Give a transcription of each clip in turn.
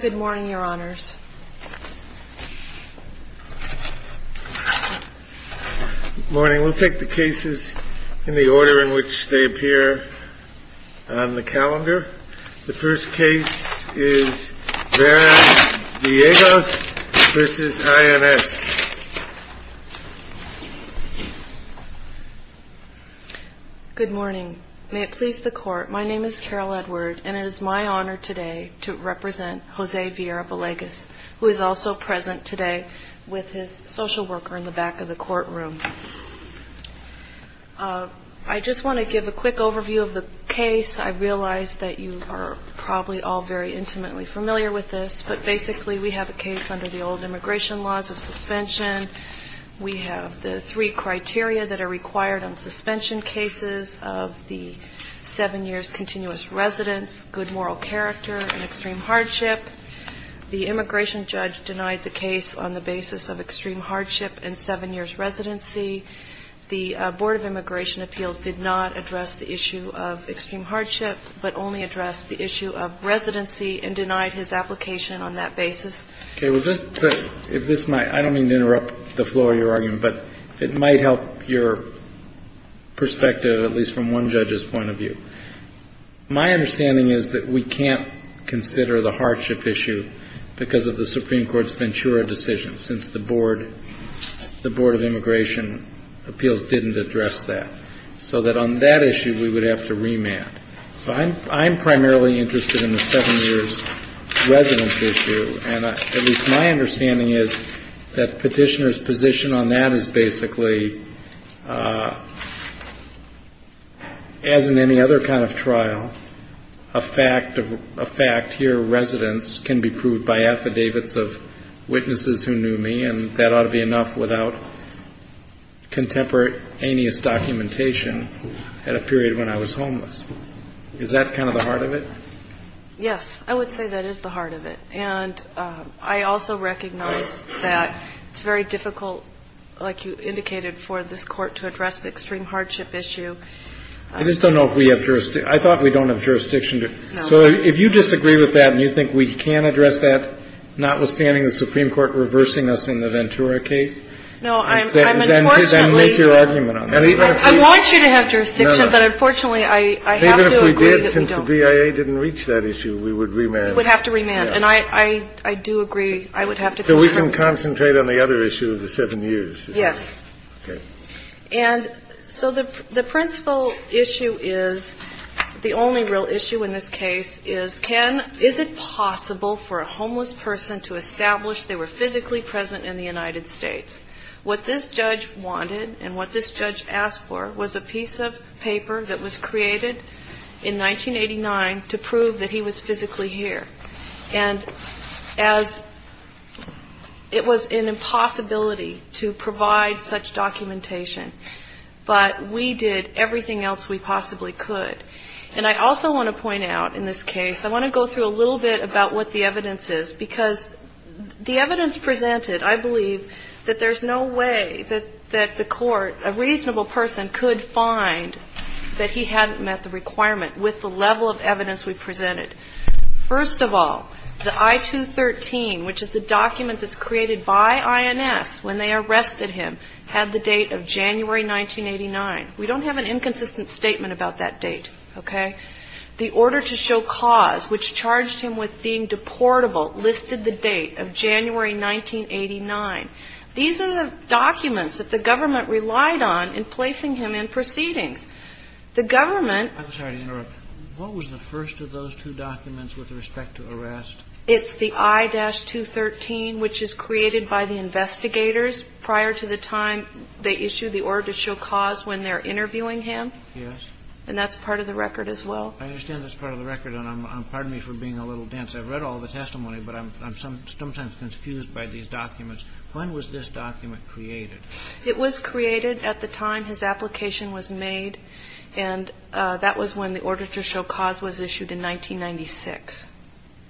Good morning, Your Honors. Good morning. We'll take the cases in the order in which they appear on the calendar. The first case is Vera-Villegas v. INS. Good morning. May it please the Court, my name is Carol Edward and it is my honor today to represent Jose Vera-Villegas, who is also present today with his social worker in the back of the courtroom. I just want to give a quick overview of the case. I realize that you are probably all very intimately familiar with this, but basically we have a case under the old immigration laws of suspension. We have the three criteria that are required on suspension cases of the seven years continuous residence, good moral character, and extreme hardship. The immigration judge denied the case on the basis of extreme hardship and seven years residency. The Board of Immigration Appeals did not address the issue of extreme hardship, but only addressed the issue of residency and denied his application on that I don't mean to interrupt the flow of your argument, but it might help your perspective, at least from one judge's point of view. My understanding is that we can't consider the hardship issue because of the Supreme Court's Ventura decision, since the Board of Immigration Appeals didn't address that, so that on that issue we would have to remand. I'm primarily interested in the seven years residence issue, and at least my understanding is that Petitioner's position on that is basically, as in any other kind of trial, a fact here, residence can be proved by affidavits of witnesses who knew me, and that ought to be enough without contemporary, heinous documentation at a period when I was homeless. Is that kind of the heart of it? Yes, I would say that is the heart of it. And I also recognize that it's very difficult, like you indicated, for this court to address the extreme hardship issue. I just don't know if we have jurisdiction. I thought we don't have jurisdiction. So if you disagree with that and you think we can address that, notwithstanding the Supreme Court reversing us in the Ventura case, then make your argument on that. I want you to have jurisdiction, but unfortunately I have to agree that we don't. David, if we did, since the BIA didn't reach that issue, we would remand. We would have to remand. And I do agree. I would have to go from there. So we can concentrate on the other issue of the seven years. Yes. And so the principal issue is, the only real issue in this case is, Ken, is it possible for a homeless person to establish they were physically present in the United States? What this judge wanted and what this judge asked for was a piece of paper that was created in 1989 to prove that he was physically here. And as it was an impossibility to provide evidence that he was physically present in the United States. And we did everything else we possibly could. And I also want to point out in this case, I want to go through a little bit about what the evidence is. Because the evidence presented, I believe, that there's no way that the court, a reasonable person, could find that he hadn't met the requirement with the level of evidence we presented. First of all, the I-213, which is the document that's created by INS when they arrested him, had the date of January 1989. We don't have an inconsistent statement about that date. Okay? The order to show cause, which charged him with being deportable, listed the date of January 1989. These are the documents that the government relied on in placing him in proceedings. The government... I'm sorry to interrupt. What was the first of those two documents with respect to arrest? Prior to the time they issued the order to show cause when they're interviewing him? Yes. And that's part of the record as well? I understand that's part of the record. And pardon me for being a little dense. I've read all the testimony, but I'm sometimes confused by these documents. When was this document created? It was created at the time his application was made. And that was when the order to show cause was issued in 1996.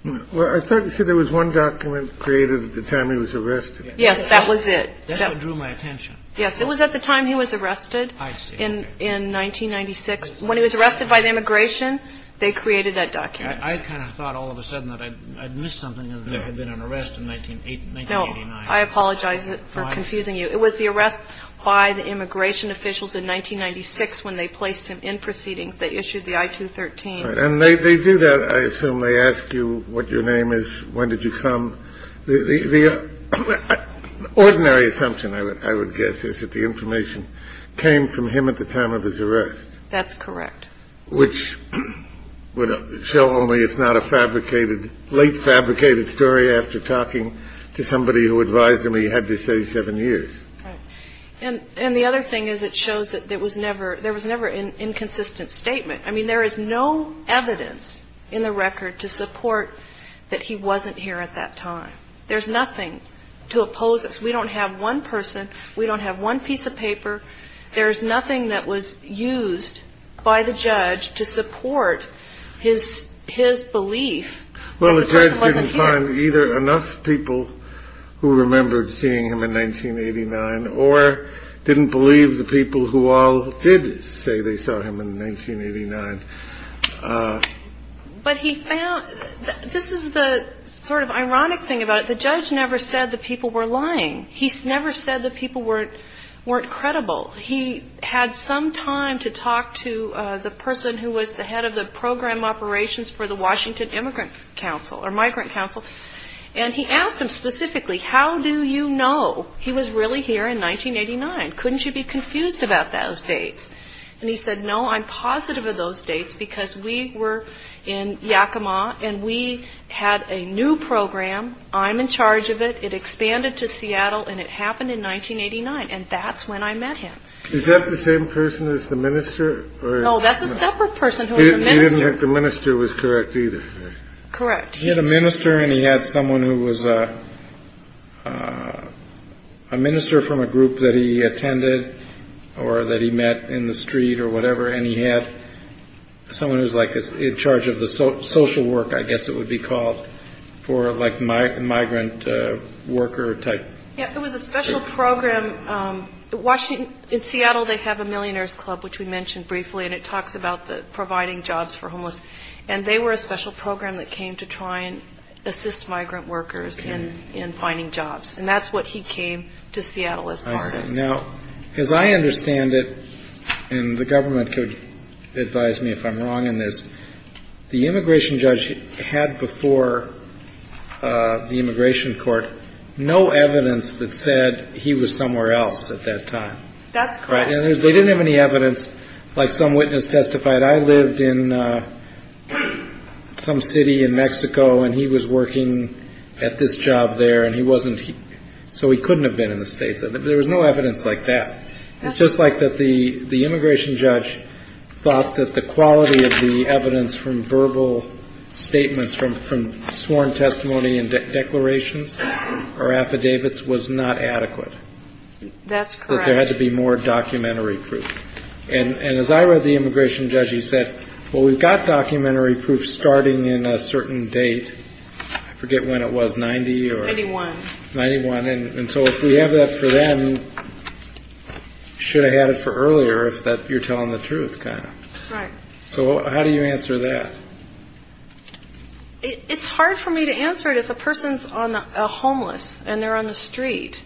Well, I thought you said there was one document created at the time he was arrested. Yes, that was it. That's what drew my attention. Yes, it was at the time he was arrested in 1996. When he was arrested by the immigration, they created that document. I kind of thought all of a sudden that I'd missed something and that there had been an arrest in 1989. No, I apologize for confusing you. It was the arrest by the immigration officials in 1996 when they placed him in proceedings. They issued the I-213. And they do that. I assume they ask you what your name is. When did you come? The ordinary assumption, I would guess, is that the information came from him at the time of his arrest. That's correct. Which would show only it's not a fabricated late fabricated story after talking to somebody who advised him he had to say seven years. And the other thing is it shows that there was never there was never an inconsistent statement. I mean, there is no evidence in the record to support that he wasn't here at that time. There's nothing to oppose us. We don't have one person. We don't have one piece of paper. There's nothing that was used by the judge to support his his belief. Well, the judge didn't find either enough people who remembered seeing him in 1989 or didn't believe the people who all did say they saw him in 1989. But he found this is the sort of ironic thing about it. The judge never said the people were lying. He's never said the people weren't weren't credible. He had some time to talk to the person who was the head of the program operations for the Washington Immigrant Council or Migrant Council. And he asked him specifically, how do you know he was really here in 1989? Couldn't you be confused about those dates? And he said, no, I'm positive of those dates because we were in Yakima and we had a new program. I'm in charge of it. It expanded to Seattle and it happened in 1989. And that's when I met him. Is that the same person as the minister? Oh, that's a separate person. The minister was correct either. Correct. He had a minister and he had someone who was a minister from a group that he attended or that he met in the street or whatever. And he had someone who's like in charge of the social work. I guess it would be called for like my migrant worker type. Yeah, it was a special program. Washington in Seattle. They have a millionaires club, which we mentioned briefly. And it talks about the providing jobs for homeless. And they were a special program that came to try and assist migrant workers in finding jobs. And that's what he came to Seattle. Now, as I understand it, and the government could advise me if I'm wrong in this, the immigration judge had before the immigration court no evidence that said he was somewhere else at that time. That's right. They didn't have any evidence. Like some witness testified. I lived in some city in Mexico and he was working at this job there and he wasn't. So he couldn't have been in the States. There was no evidence like that. It's just like that. The the immigration judge thought that the quality of the evidence from verbal statements from from sworn testimony and declarations or affidavits was not adequate. That's correct. There had to be more documentary proof. And as I read the immigration judge, he said, well, we've got documentary proof starting in a certain date. I forget when it was. Ninety or ninety one. Ninety one. And so we have that for them. Should have had it for earlier if that you're telling the truth. So how do you answer that? It's hard for me to answer it. If a person's on a homeless and they're on the street,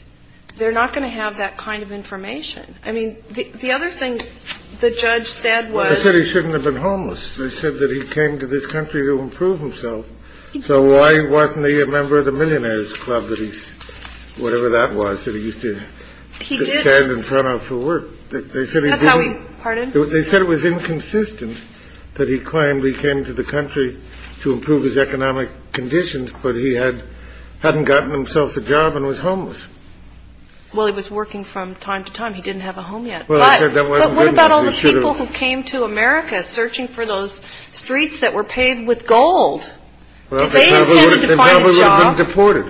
they're not going to have that kind of information. I mean, the other thing the judge said was that he shouldn't have been homeless. They said that he came to this country to improve himself. So why wasn't he a member of the millionaires club that he's whatever that was that he used to stand in front of for work? They said it was inconsistent that he claimed he came to the country to improve his economic conditions. But he had hadn't gotten himself a job and was homeless. Well, he was working from time to time. He didn't have a home yet. What about all the people who came to America searching for those streets that were paved with gold? Well, they intended to find a job deported.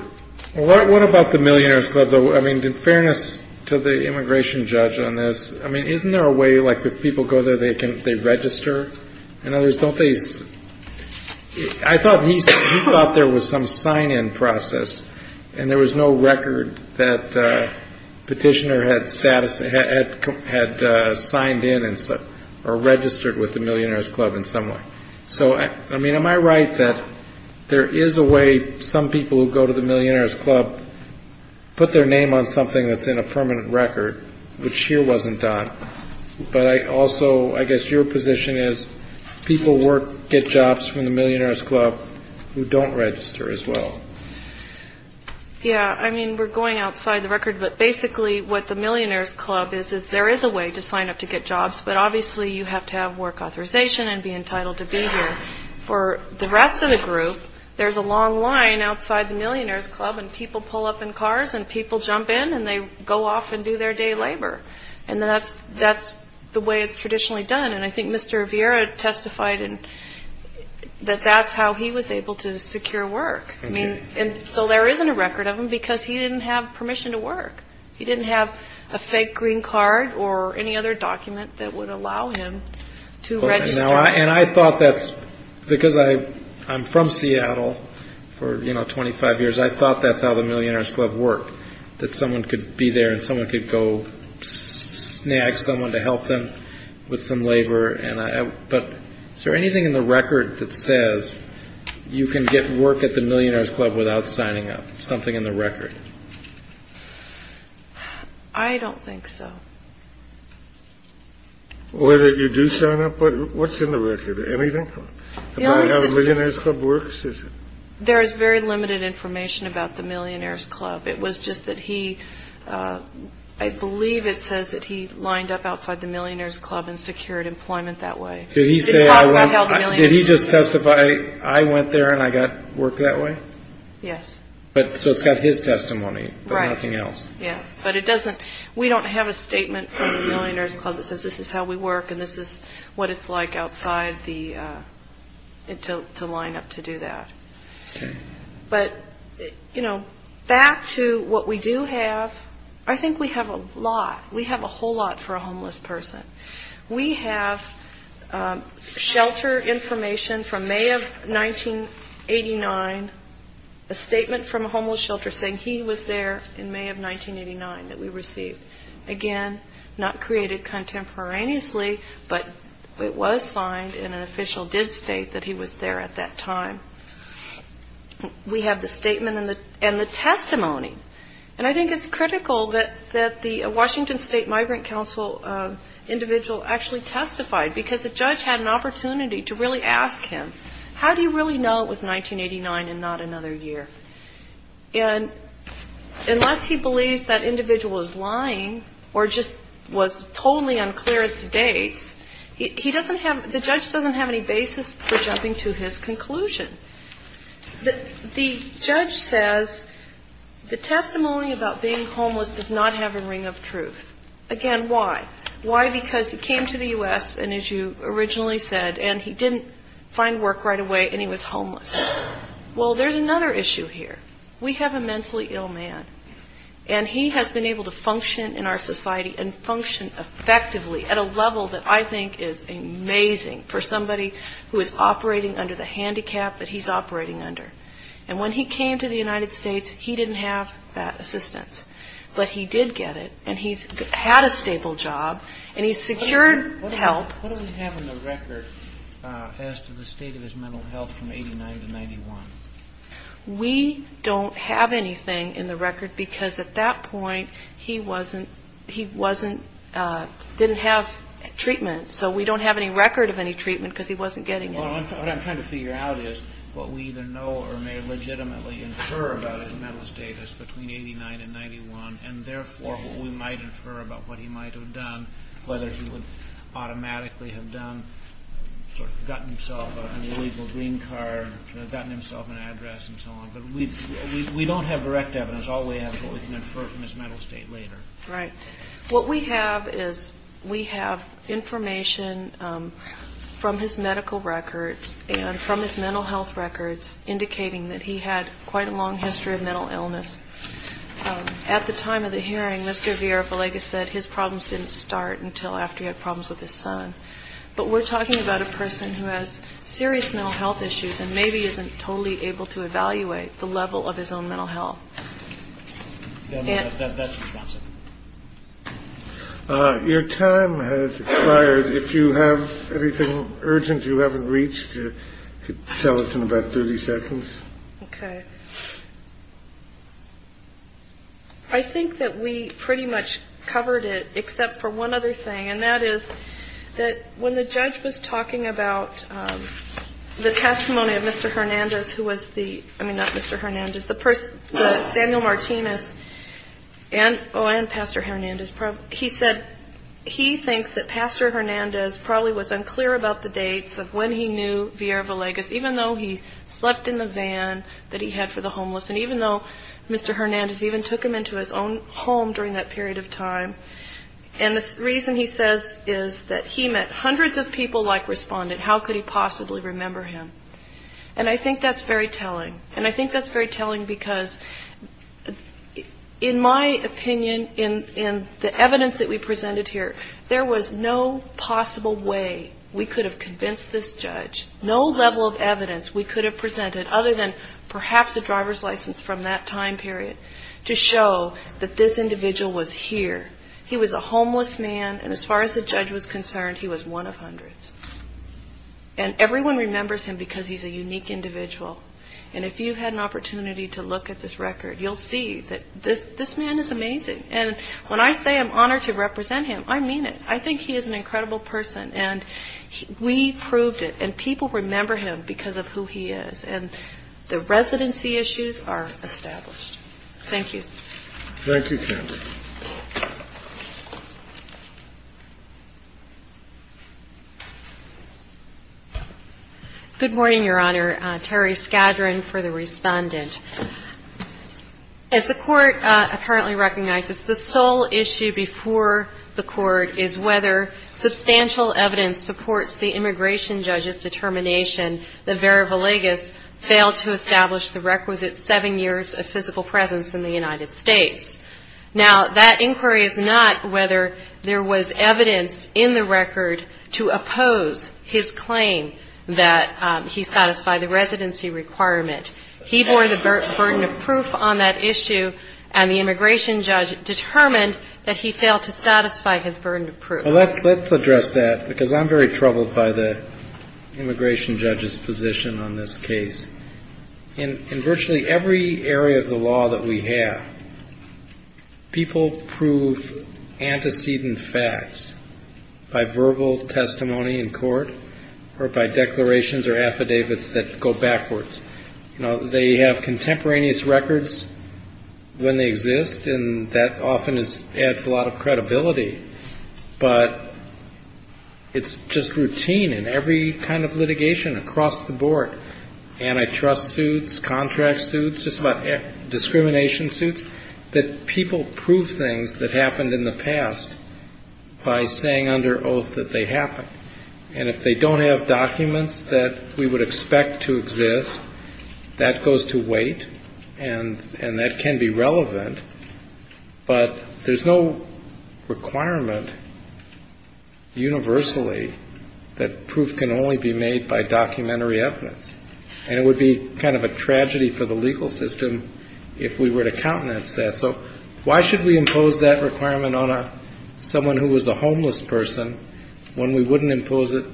What about the millionaires? I mean, in fairness to the immigration judge on this. I mean, isn't there a way like the people go there? They can they register and others don't they? I thought he thought there was some sign in process. And there was no record that petitioner had status had had signed in and registered with the millionaires club in some way. So, I mean, am I right that there is a way some people who go to the millionaires club put their name on something that's in a permanent record, which here wasn't done. But I also I guess your position is people work, get jobs from the millionaires club who don't register as well. Yeah, I mean, we're going outside the record, but basically what the millionaires club is, is there is a way to sign up to get jobs. But obviously you have to have work authorization and be entitled to be here for the rest of the group. There's a long line outside the millionaires club and people pull up in cars and people jump in and they go off and do their day labor. And that's that's the way it's traditionally done. And I think Mr. Viera testified that that's how he was able to secure work. I mean, and so there isn't a record of him because he didn't have permission to work. He didn't have a fake green card or any other document that would allow him to register. And I thought that's because I I'm from Seattle for 25 years. I thought that's how the millionaires club work, that someone could be there and someone could go snag someone to help them with some labor. But is there anything in the record that says you can get work at the millionaires club without signing up something in the record? I don't think so. Whether you do sign up. What's in the record? Anything about how the millionaires club works? There is very limited information about the millionaires club. It was just that he I believe it says that he lined up outside the millionaires club and secured employment that way. Did he say how did he just testify? I went there and I got work that way. Yes. But so it's got his testimony. Right. Nothing else. Yeah. But it doesn't we don't have a statement from the millionaires club that says this is how we work and this is what it's like outside the. It took to line up to do that. But, you know, back to what we do have. I think we have a lot. We have a whole lot for a homeless person. We have shelter information from May of 1989, a statement from a homeless shelter saying he was there in May of 1989 that we received. Again, not created contemporaneously, but it was signed and an official did state that he was there at that time. We have the statement and the and the testimony. And I think it's critical that that the Washington State Migrant Council individual actually testified because the judge had an opportunity to really ask him. How do you really know it was 1989 and not another year? And unless he believes that individual is lying or just was totally unclear at the dates, he doesn't have the judge doesn't have any basis for jumping to his conclusion. The judge says the testimony about being homeless does not have a ring of truth. Again, why? Why? Because he came to the US. And as you originally said, and he didn't find work right away and he was homeless. Well, there's another issue here. We have a mentally ill man and he has been able to function in our society and function effectively at a level that I think is amazing. For somebody who is operating under the handicap that he's operating under. And when he came to the United States, he didn't have that assistance, but he did get it and he's had a stable job and he secured help. What do we have in the record as to the state of his mental health from 89 to 91? We don't have anything in the record because at that point he wasn't he wasn't didn't have treatment. So we don't have any record of any treatment because he wasn't getting it. What I'm trying to figure out is what we either know or may legitimately infer about his mental status between 89 and 91. And therefore, what we might infer about what he might have done, whether he would automatically have done sort of gotten himself an illegal green card, gotten himself an address and so on. But we don't have direct evidence. All we have is what we can infer from his mental state later. Right. What we have is we have information from his medical records and from his mental health records indicating that he had quite a long history of mental illness. At the time of the hearing, Mr. Viera said his problems didn't start until after he had problems with his son. But we're talking about a person who has serious mental health issues and maybe isn't totally able to evaluate the level of his own mental health. That's your time has expired. If you have anything urgent you haven't reached to tell us in about 30 seconds. OK. I think that we pretty much covered it except for one other thing, and that is that when the judge was talking about the testimony of Mr. Hernandez, who was the I mean, not Mr. Hernandez, the first Samuel Martinez and oh, and Pastor Hernandez. He said he thinks that Pastor Hernandez probably was unclear about the dates of when he knew Viera Villegas, even though he slept in the van that he had for the homeless. And even though Mr. Hernandez even took him into his own home during that period of time. And the reason he says is that he met hundreds of people like responded. How could he possibly remember him? And I think that's very telling. And I think that's very telling because in my opinion, in the evidence that we presented here, there was no possible way we could have convinced this judge. No level of evidence we could have presented other than perhaps a driver's license from that time period to show that this individual was here. He was a homeless man. And as far as the judge was concerned, he was one of hundreds. And everyone remembers him because he's a unique individual. And if you had an opportunity to look at this record, you'll see that this man is amazing. And when I say I'm honored to represent him, I mean it. I think he is an incredible person. And we proved it. And people remember him because of who he is. And the residency issues are established. Thank you. Thank you. Good morning, Your Honor. Terry Skadron for the respondent. As the court apparently recognizes, the sole issue before the court is whether substantial evidence supports the immigration judge's determination that Vera Villegas failed to establish the requisite seven years of physical presence in the United States. Now, that inquiry is not whether there was evidence in the record to oppose his claim that he satisfied the residency requirement. He bore the burden of proof on that issue, and the immigration judge determined that he failed to satisfy his burden of proof. Well, let's address that because I'm very troubled by the immigration judge's position on this case. In virtually every area of the law that we have, people prove antecedent facts by verbal testimony in court or by declarations or affidavits that go backwards. They have contemporaneous records when they exist, and that often adds a lot of credibility. But it's just routine in every kind of litigation across the board, antitrust suits, contract suits, discrimination suits, that people prove things that happened in the past by saying under oath that they happened. And if they don't have documents that we would expect to exist, that goes to wait, and that can be relevant. But there's no requirement universally that proof can only be made by documentary evidence, and it would be kind of a tragedy for the legal system if we were to countenance that. So why should we impose that requirement on someone who was a homeless person when we wouldn't impose it,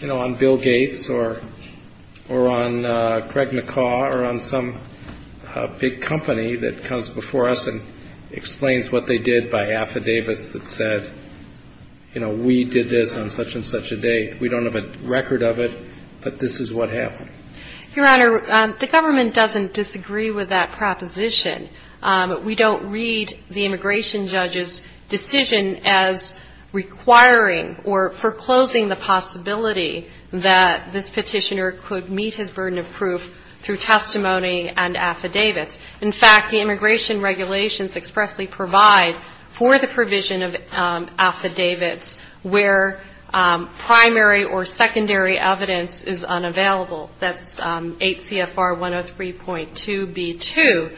you know, on Bill Gates or on Craig McCaw or on some big company that comes before us and explains what they did by affidavits that said, you know, we did this on such and such a date. We don't have a record of it, but this is what happened. Your Honor, the government doesn't disagree with that proposition. We don't read the immigration judge's decision as requiring or foreclosing the possibility that this petitioner could meet his burden of proof through testimony and affidavits. In fact, the immigration regulations expressly provide for the provision of affidavits where primary or secondary evidence is unavailable. That's 8 CFR 103.2B2.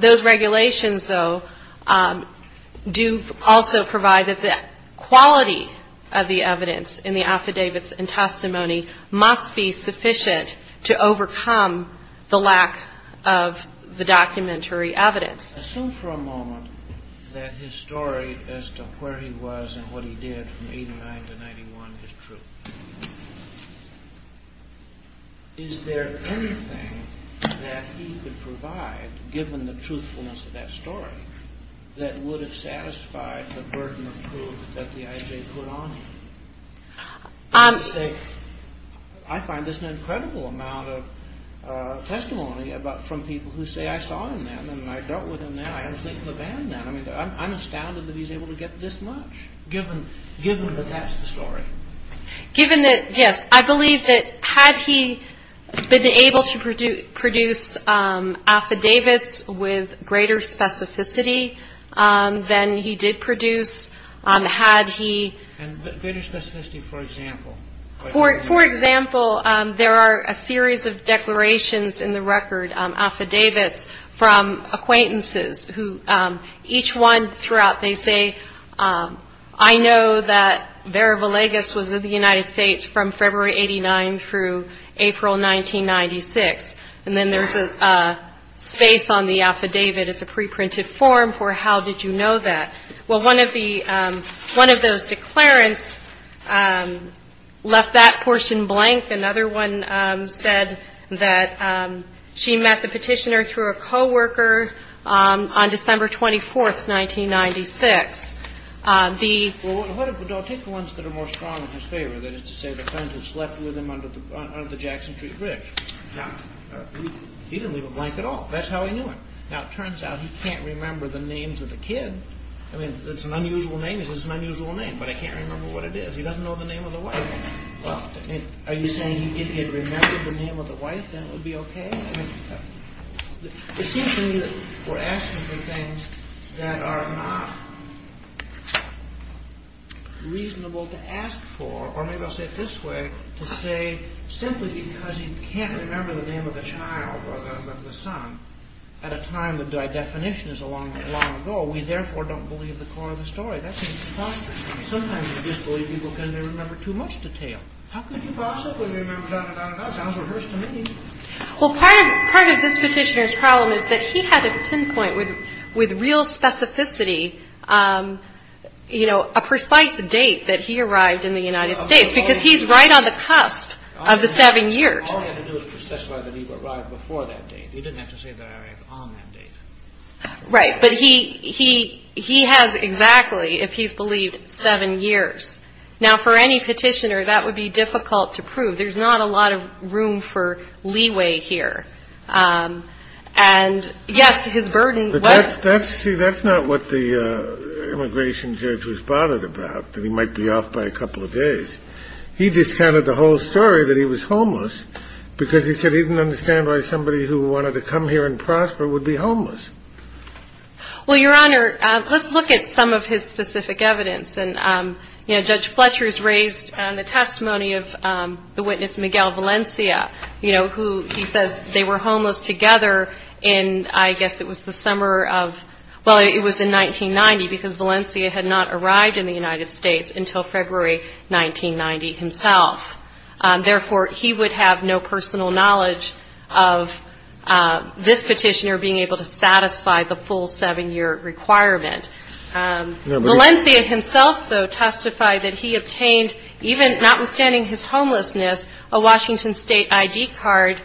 Those regulations, though, do also provide that the quality of the evidence in the affidavits and testimony must be sufficient to overcome the lack of the documentary evidence. Assume for a moment that his story as to where he was and what he did from 89 to 91 is true. Is there anything that he could provide, given the truthfulness of that story, that would have satisfied the burden of proof that the IJ put on him? I find there's an incredible amount of testimony from people who say, I saw him then and I dealt with him then. I understand the band then. I mean, I'm astounded that he's able to get this much, given that that's the story. Given that, yes, I believe that had he been able to produce affidavits with greater specificity than he did produce, had he. And greater specificity, for example. For example, there are a series of declarations in the record, affidavits from acquaintances, who each one throughout they say, I know that Vera Villegas was in the United States from February 89 through April 1996. And then there's a space on the affidavit. It's a preprinted form for how did you know that? Well, one of those declarants left that portion blank. Another one said that she met the petitioner through a co-worker on December 24, 1996. Well, take the ones that are more strong in his favor. That is to say the friend who slept with him under the Jackson Tree Bridge. Now, he didn't leave a blank at all. That's how he knew it. Now, it turns out he can't remember the names of the kid. I mean, it's an unusual name. It's an unusual name, but I can't remember what it is. He doesn't know the name of the wife. Are you saying if he had remembered the name of the wife, then it would be okay? I mean, it seems to me that we're asking for things that are not reasonable to ask for. Or maybe I'll say it this way, to say simply because he can't remember the name of the child, or the son, at a time that by definition is a long, long ago, we therefore don't believe the core of the story. That seems preposterous to me. Sometimes we disbelieve people because they remember too much detail. How could he possibly remember da-da-da-da-da? That sounds rehearsed to me. Well, part of this petitioner's problem is that he had to pinpoint with real specificity, you know, a precise date that he arrived in the United States, because he's right on the cusp of the seven years. All he had to do was specify that he arrived before that date. He didn't have to say that I arrived on that date. Right. But he has exactly, if he's believed, seven years. Now, for any petitioner, that would be difficult to prove. There's not a lot of room for leeway here. And, yes, his burden was. See, that's not what the immigration judge was bothered about, that he might be off by a couple of days. He discounted the whole story, that he was homeless, because he said he didn't understand why somebody who wanted to come here and prosper would be homeless. Well, Your Honor, let's look at some of his specific evidence. And, you know, Judge Fletcher's raised the testimony of the witness, Miguel Valencia, you know, who he says they were homeless together in, I guess it was the summer of, well, it was in 1990 because Valencia had not arrived in the United States until February 1990 himself. Therefore, he would have no personal knowledge of this petitioner being able to satisfy the full seven year requirement. Valencia himself, though, testified that he obtained, even notwithstanding his homelessness, a Washington State I.D. card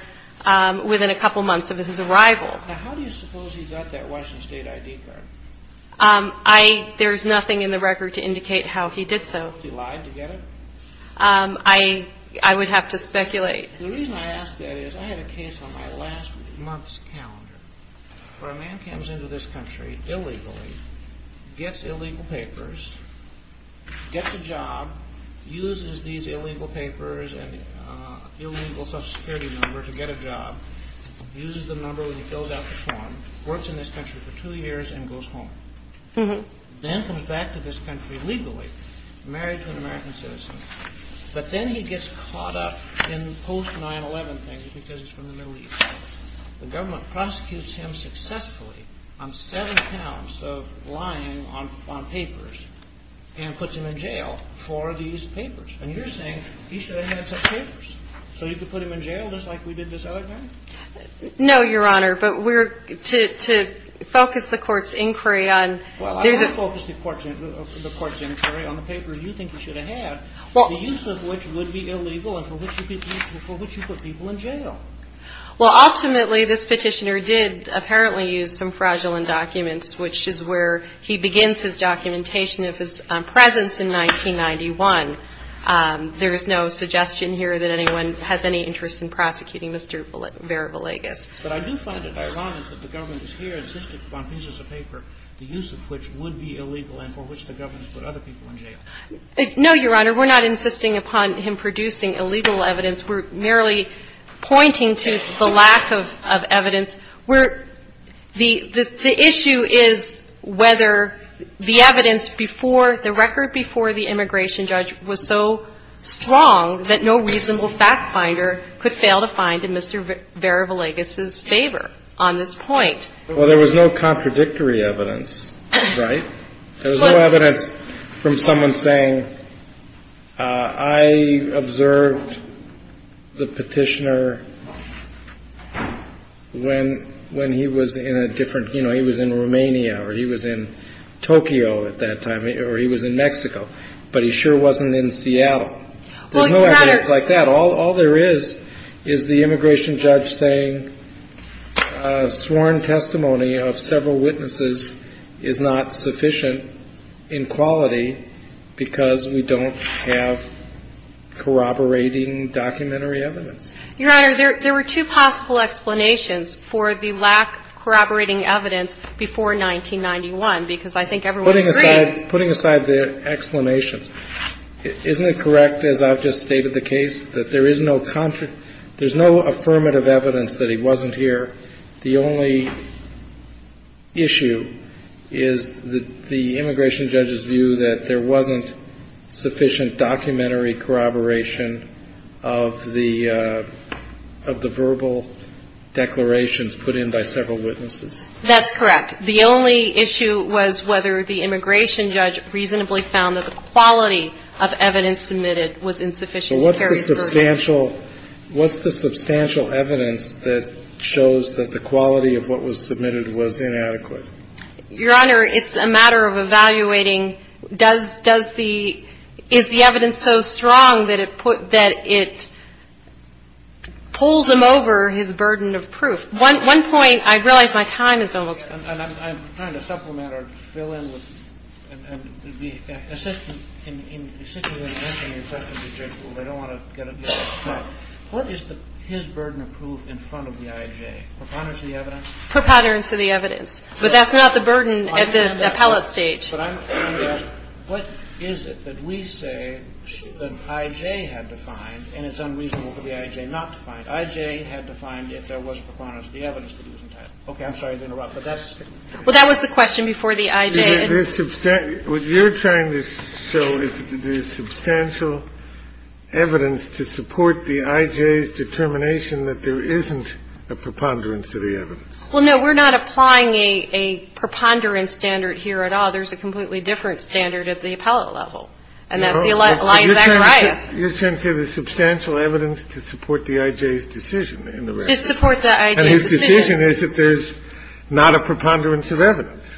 within a couple months of his arrival. Now, how do you suppose he got that Washington State I.D. card? There's nothing in the record to indicate how he did so. He lied to get it? I would have to speculate. The reason I ask that is I had a case on my last month's calendar where a man comes into this country illegally, gets illegal papers, gets a job, uses these illegal papers and illegal social security number to get a job, uses the number when he fills out the form, works in this country for two years and goes home. Then comes back to this country illegally, married to an American citizen. But then he gets caught up in post 9-11 things because he's from the Middle East. The government prosecutes him successfully on seven counts of lying on papers and puts him in jail for these papers. And you're saying he should have had such papers so you could put him in jail just like we did this other time? No, Your Honor, but we're to focus the court's inquiry on. Well, I'm going to focus the court's inquiry on the papers you think he should have had, the use of which would be illegal and for which you put people in jail. Well, ultimately, this petitioner did apparently use some fraudulent documents, which is where he begins his documentation of his presence in 1991. There is no suggestion here that anyone has any interest in prosecuting Mr. Vera Villegas. But I do find it ironic that the government is here insisting on pieces of paper, the use of which would be illegal and for which the government put other people in jail. No, Your Honor, we're not insisting upon him producing illegal evidence. We're merely pointing to the lack of evidence. The issue is whether the evidence before, the record before the immigration judge was so strong that no reasonable fact finder could fail to find in Mr. Vera Villegas's favor on this point. Well, there was no contradictory evidence, right? There was no evidence from someone saying, I observed the petitioner when he was in a different, you know, he was in Romania or he was in Tokyo at that time or he was in Mexico, but he sure wasn't in Seattle. There's no evidence like that. All there is is the immigration judge saying sworn testimony of several witnesses is not sufficient in quality because we don't have corroborating documentary evidence. Your Honor, there were two possible explanations for the lack of corroborating evidence before 1991 because I think everyone agrees. Putting aside the explanations, isn't it correct, as I've just stated the case, that there is no affirmative evidence that he wasn't here? The only issue is the immigration judge's view that there wasn't sufficient documentary corroboration of the verbal declarations put in by several witnesses. That's correct. The only issue was whether the immigration judge reasonably found that the quality of evidence submitted was insufficient to carry the verdict. So what's the substantial evidence that shows that the quality of what was submitted was inadequate? Your Honor, it's a matter of evaluating does the – is the evidence so strong that it pulls him over his burden of proof? One point, I realize my time is almost up. And I'm trying to supplement or fill in with – in assisting you in answering your question, I don't want to get ahead of myself. What is his burden of proof in front of the IJ, preponderance of the evidence? Preponderance of the evidence, but that's not the burden at the appellate stage. But I'm trying to ask, what is it that we say that IJ had to find, and it's unreasonable for the IJ not to find? IJ had to find if there was preponderance of the evidence that he was entitled. Okay. I'm sorry to interrupt, but that's – Well, that was the question before the IJ. What you're trying to show is the substantial evidence to support the IJ's determination that there isn't a preponderance of the evidence. Well, no. We're not applying a preponderance standard here at all. There's a completely different standard at the appellate level. And that's the lines of that crisis. You're trying to say the substantial evidence to support the IJ's decision in the record. To support the IJ's decision. And his decision is that there's not a preponderance of evidence.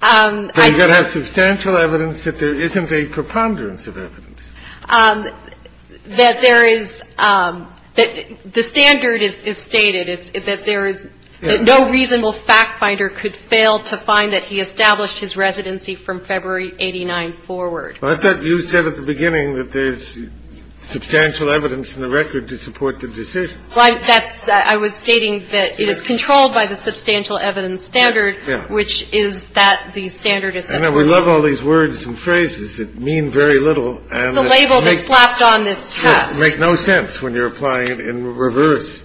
But you've got to have substantial evidence that there isn't a preponderance of evidence. That there is – that the standard is stated. That there is – that no reasonable fact finder could fail to find that he established his residency from February 89 forward. But you said at the beginning that there's substantial evidence in the record to support the decision. That's – I was stating that it is controlled by the substantial evidence standard, which is that the standard is – I know. We love all these words and phrases that mean very little. It's a label that's slapped on this test. It makes no sense when you're applying it in reverse.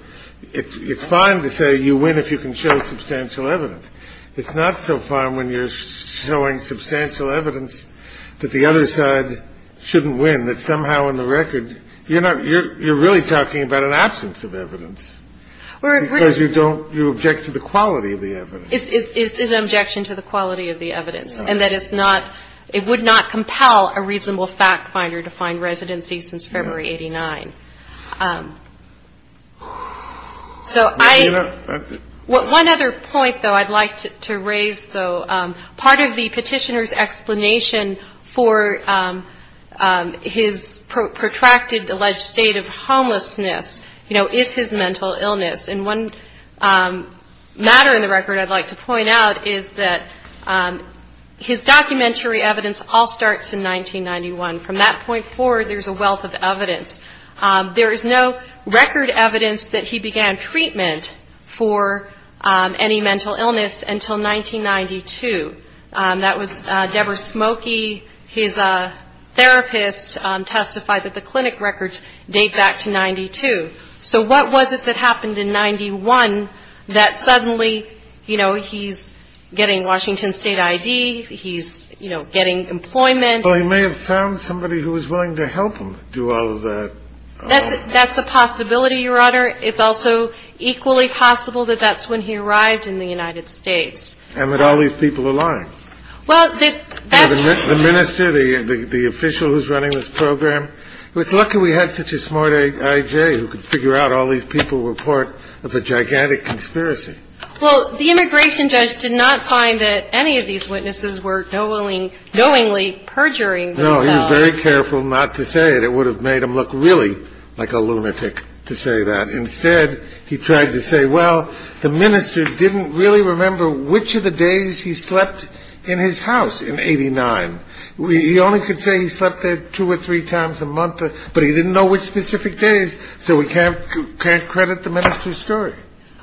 It's fine to say you win if you can show substantial evidence. It's not so fine when you're showing substantial evidence that the other side shouldn't win. That somehow in the record you're not – you're really talking about an absence of evidence. Because you don't – you object to the quality of the evidence. It's an objection to the quality of the evidence. And that it's not – it would not compel a reasonable fact finder to find residency since February 89. So I – one other point, though, I'd like to raise, though. Part of the petitioner's explanation for his protracted alleged state of homelessness, you know, is his mental illness. And one matter in the record I'd like to point out is that his documentary evidence all starts in 1991. From that point forward, there's a wealth of evidence. There is no record evidence that he began treatment for any mental illness until 1992. That was Deborah Smoky, his therapist, testified that the clinic records date back to 92. So what was it that happened in 91 that suddenly, you know, he's getting Washington State ID, he's, you know, getting employment? Well, he may have found somebody who was willing to help him do all of that. That's a possibility, Your Honor. It's also equally possible that that's when he arrived in the United States. And that all these people are lying. Well, that's – You remember the official who's running this program? It's lucky we had such a smart I.J. who could figure out all these people were part of a gigantic conspiracy. Well, the immigration judge did not find that any of these witnesses were knowingly perjuring themselves. No, he was very careful not to say it. It would have made him look really like a lunatic to say that. Instead, he tried to say, well, the minister didn't really remember which of the days he slept in his house in 89. He only could say he slept there two or three times a month, but he didn't know which specific days. So we can't credit the minister's story.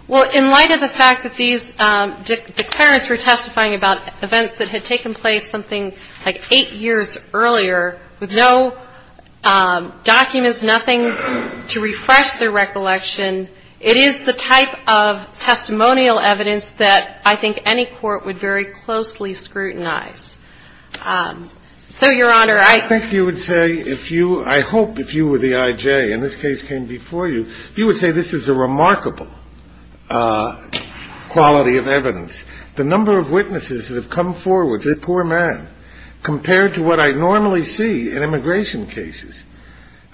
Well, in light of the fact that these declarants were testifying about events that had taken place something like eight years earlier, with no documents, nothing to refresh their recollection, it is the type of testimonial evidence that I think any court would very closely scrutinize. So, Your Honor, I think you would say if you – I hope if you were the I.J. and this case came before you, you would say this is a remarkable quality of evidence. The number of witnesses that have come forward, the poor man, compared to what I normally see in immigration cases,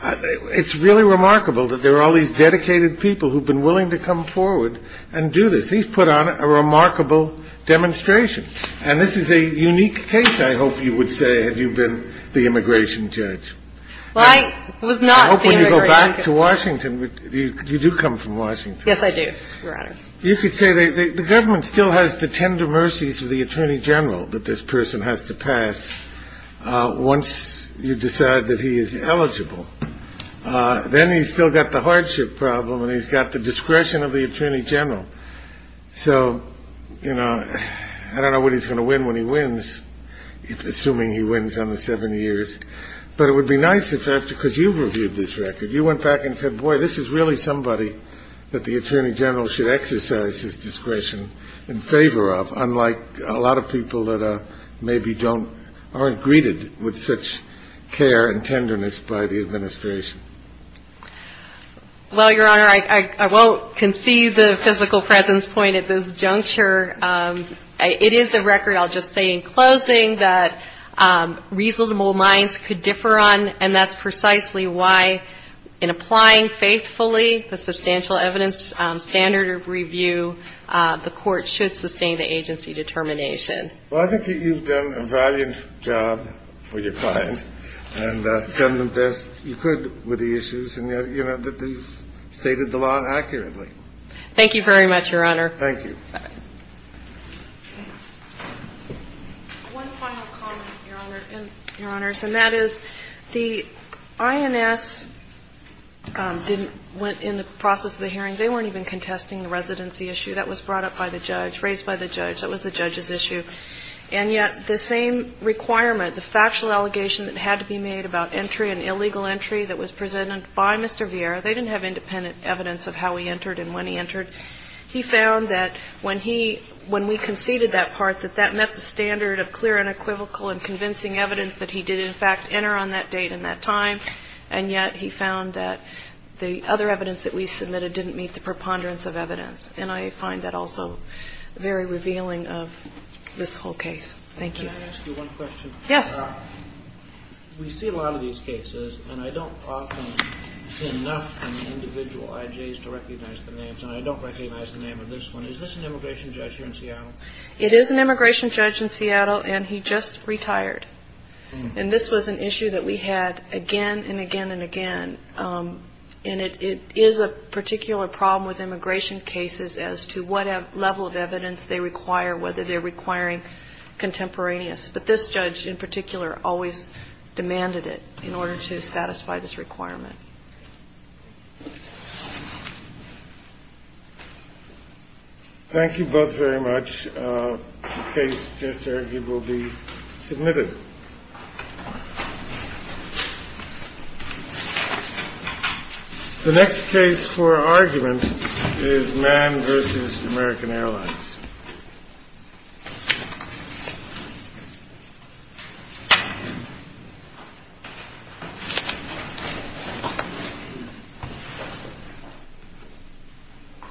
it's really remarkable that there are all these dedicated people who have been willing to come forward and do this. He's put on a remarkable demonstration. And this is a unique case, I hope you would say, had you been the immigration judge. Well, I was not the immigration judge. I hope when you go back to Washington, you do come from Washington. Yes, I do, Your Honor. You could say the government still has the tender mercies of the attorney general that this person has to pass once you decide that he is eligible. Then he's still got the hardship problem and he's got the discretion of the attorney general. So, you know, I don't know what he's going to win when he wins, assuming he wins on the seven years. But it would be nice if that's because you've reviewed this record. You went back and said, boy, this is really somebody that the attorney general should exercise his discretion in favor of, unlike a lot of people that maybe aren't greeted with such care and tenderness by the administration. Well, Your Honor, I won't concede the physical presence point at this juncture. It is a record, I'll just say in closing, that reasonable minds could differ on, and that's precisely why in applying faithfully the substantial evidence standard of review, the court should sustain the agency determination. Well, I think that you've done a valiant job for your client and done the best you could with the issues, and yet you know that you've stated the law accurately. Thank you very much, Your Honor. Thank you. One final comment, Your Honor, and that is the INS didn't, in the process of the hearing, they weren't even contesting the residency issue. That was brought up by the judge, raised by the judge. That was the judge's issue. And yet the same requirement, the factual allegation that had to be made about entry, an illegal entry that was presented by Mr. Vieira, they didn't have independent evidence of how he entered and when he entered. He found that when we conceded that part, that that met the standard of clear and equivocal and convincing evidence that he did, in fact, enter on that date and that time. And yet he found that the other evidence that we submitted didn't meet the preponderance of evidence. And I find that also very revealing of this whole case. Thank you. Can I ask you one question? Yes. We see a lot of these cases, and I don't often see enough individual IJs to recognize the names, and I don't recognize the name of this one. Is this an immigration judge here in Seattle? It is an immigration judge in Seattle, and he just retired. And this was an issue that we had again and again and again. And it is a particular problem with immigration cases as to what level of evidence they require, whether they're requiring contemporaneous. But this judge in particular always demanded it in order to satisfy this requirement. Thank you both very much. The case will be submitted. The next case for argument is Mann v. American Airlines. Thank you.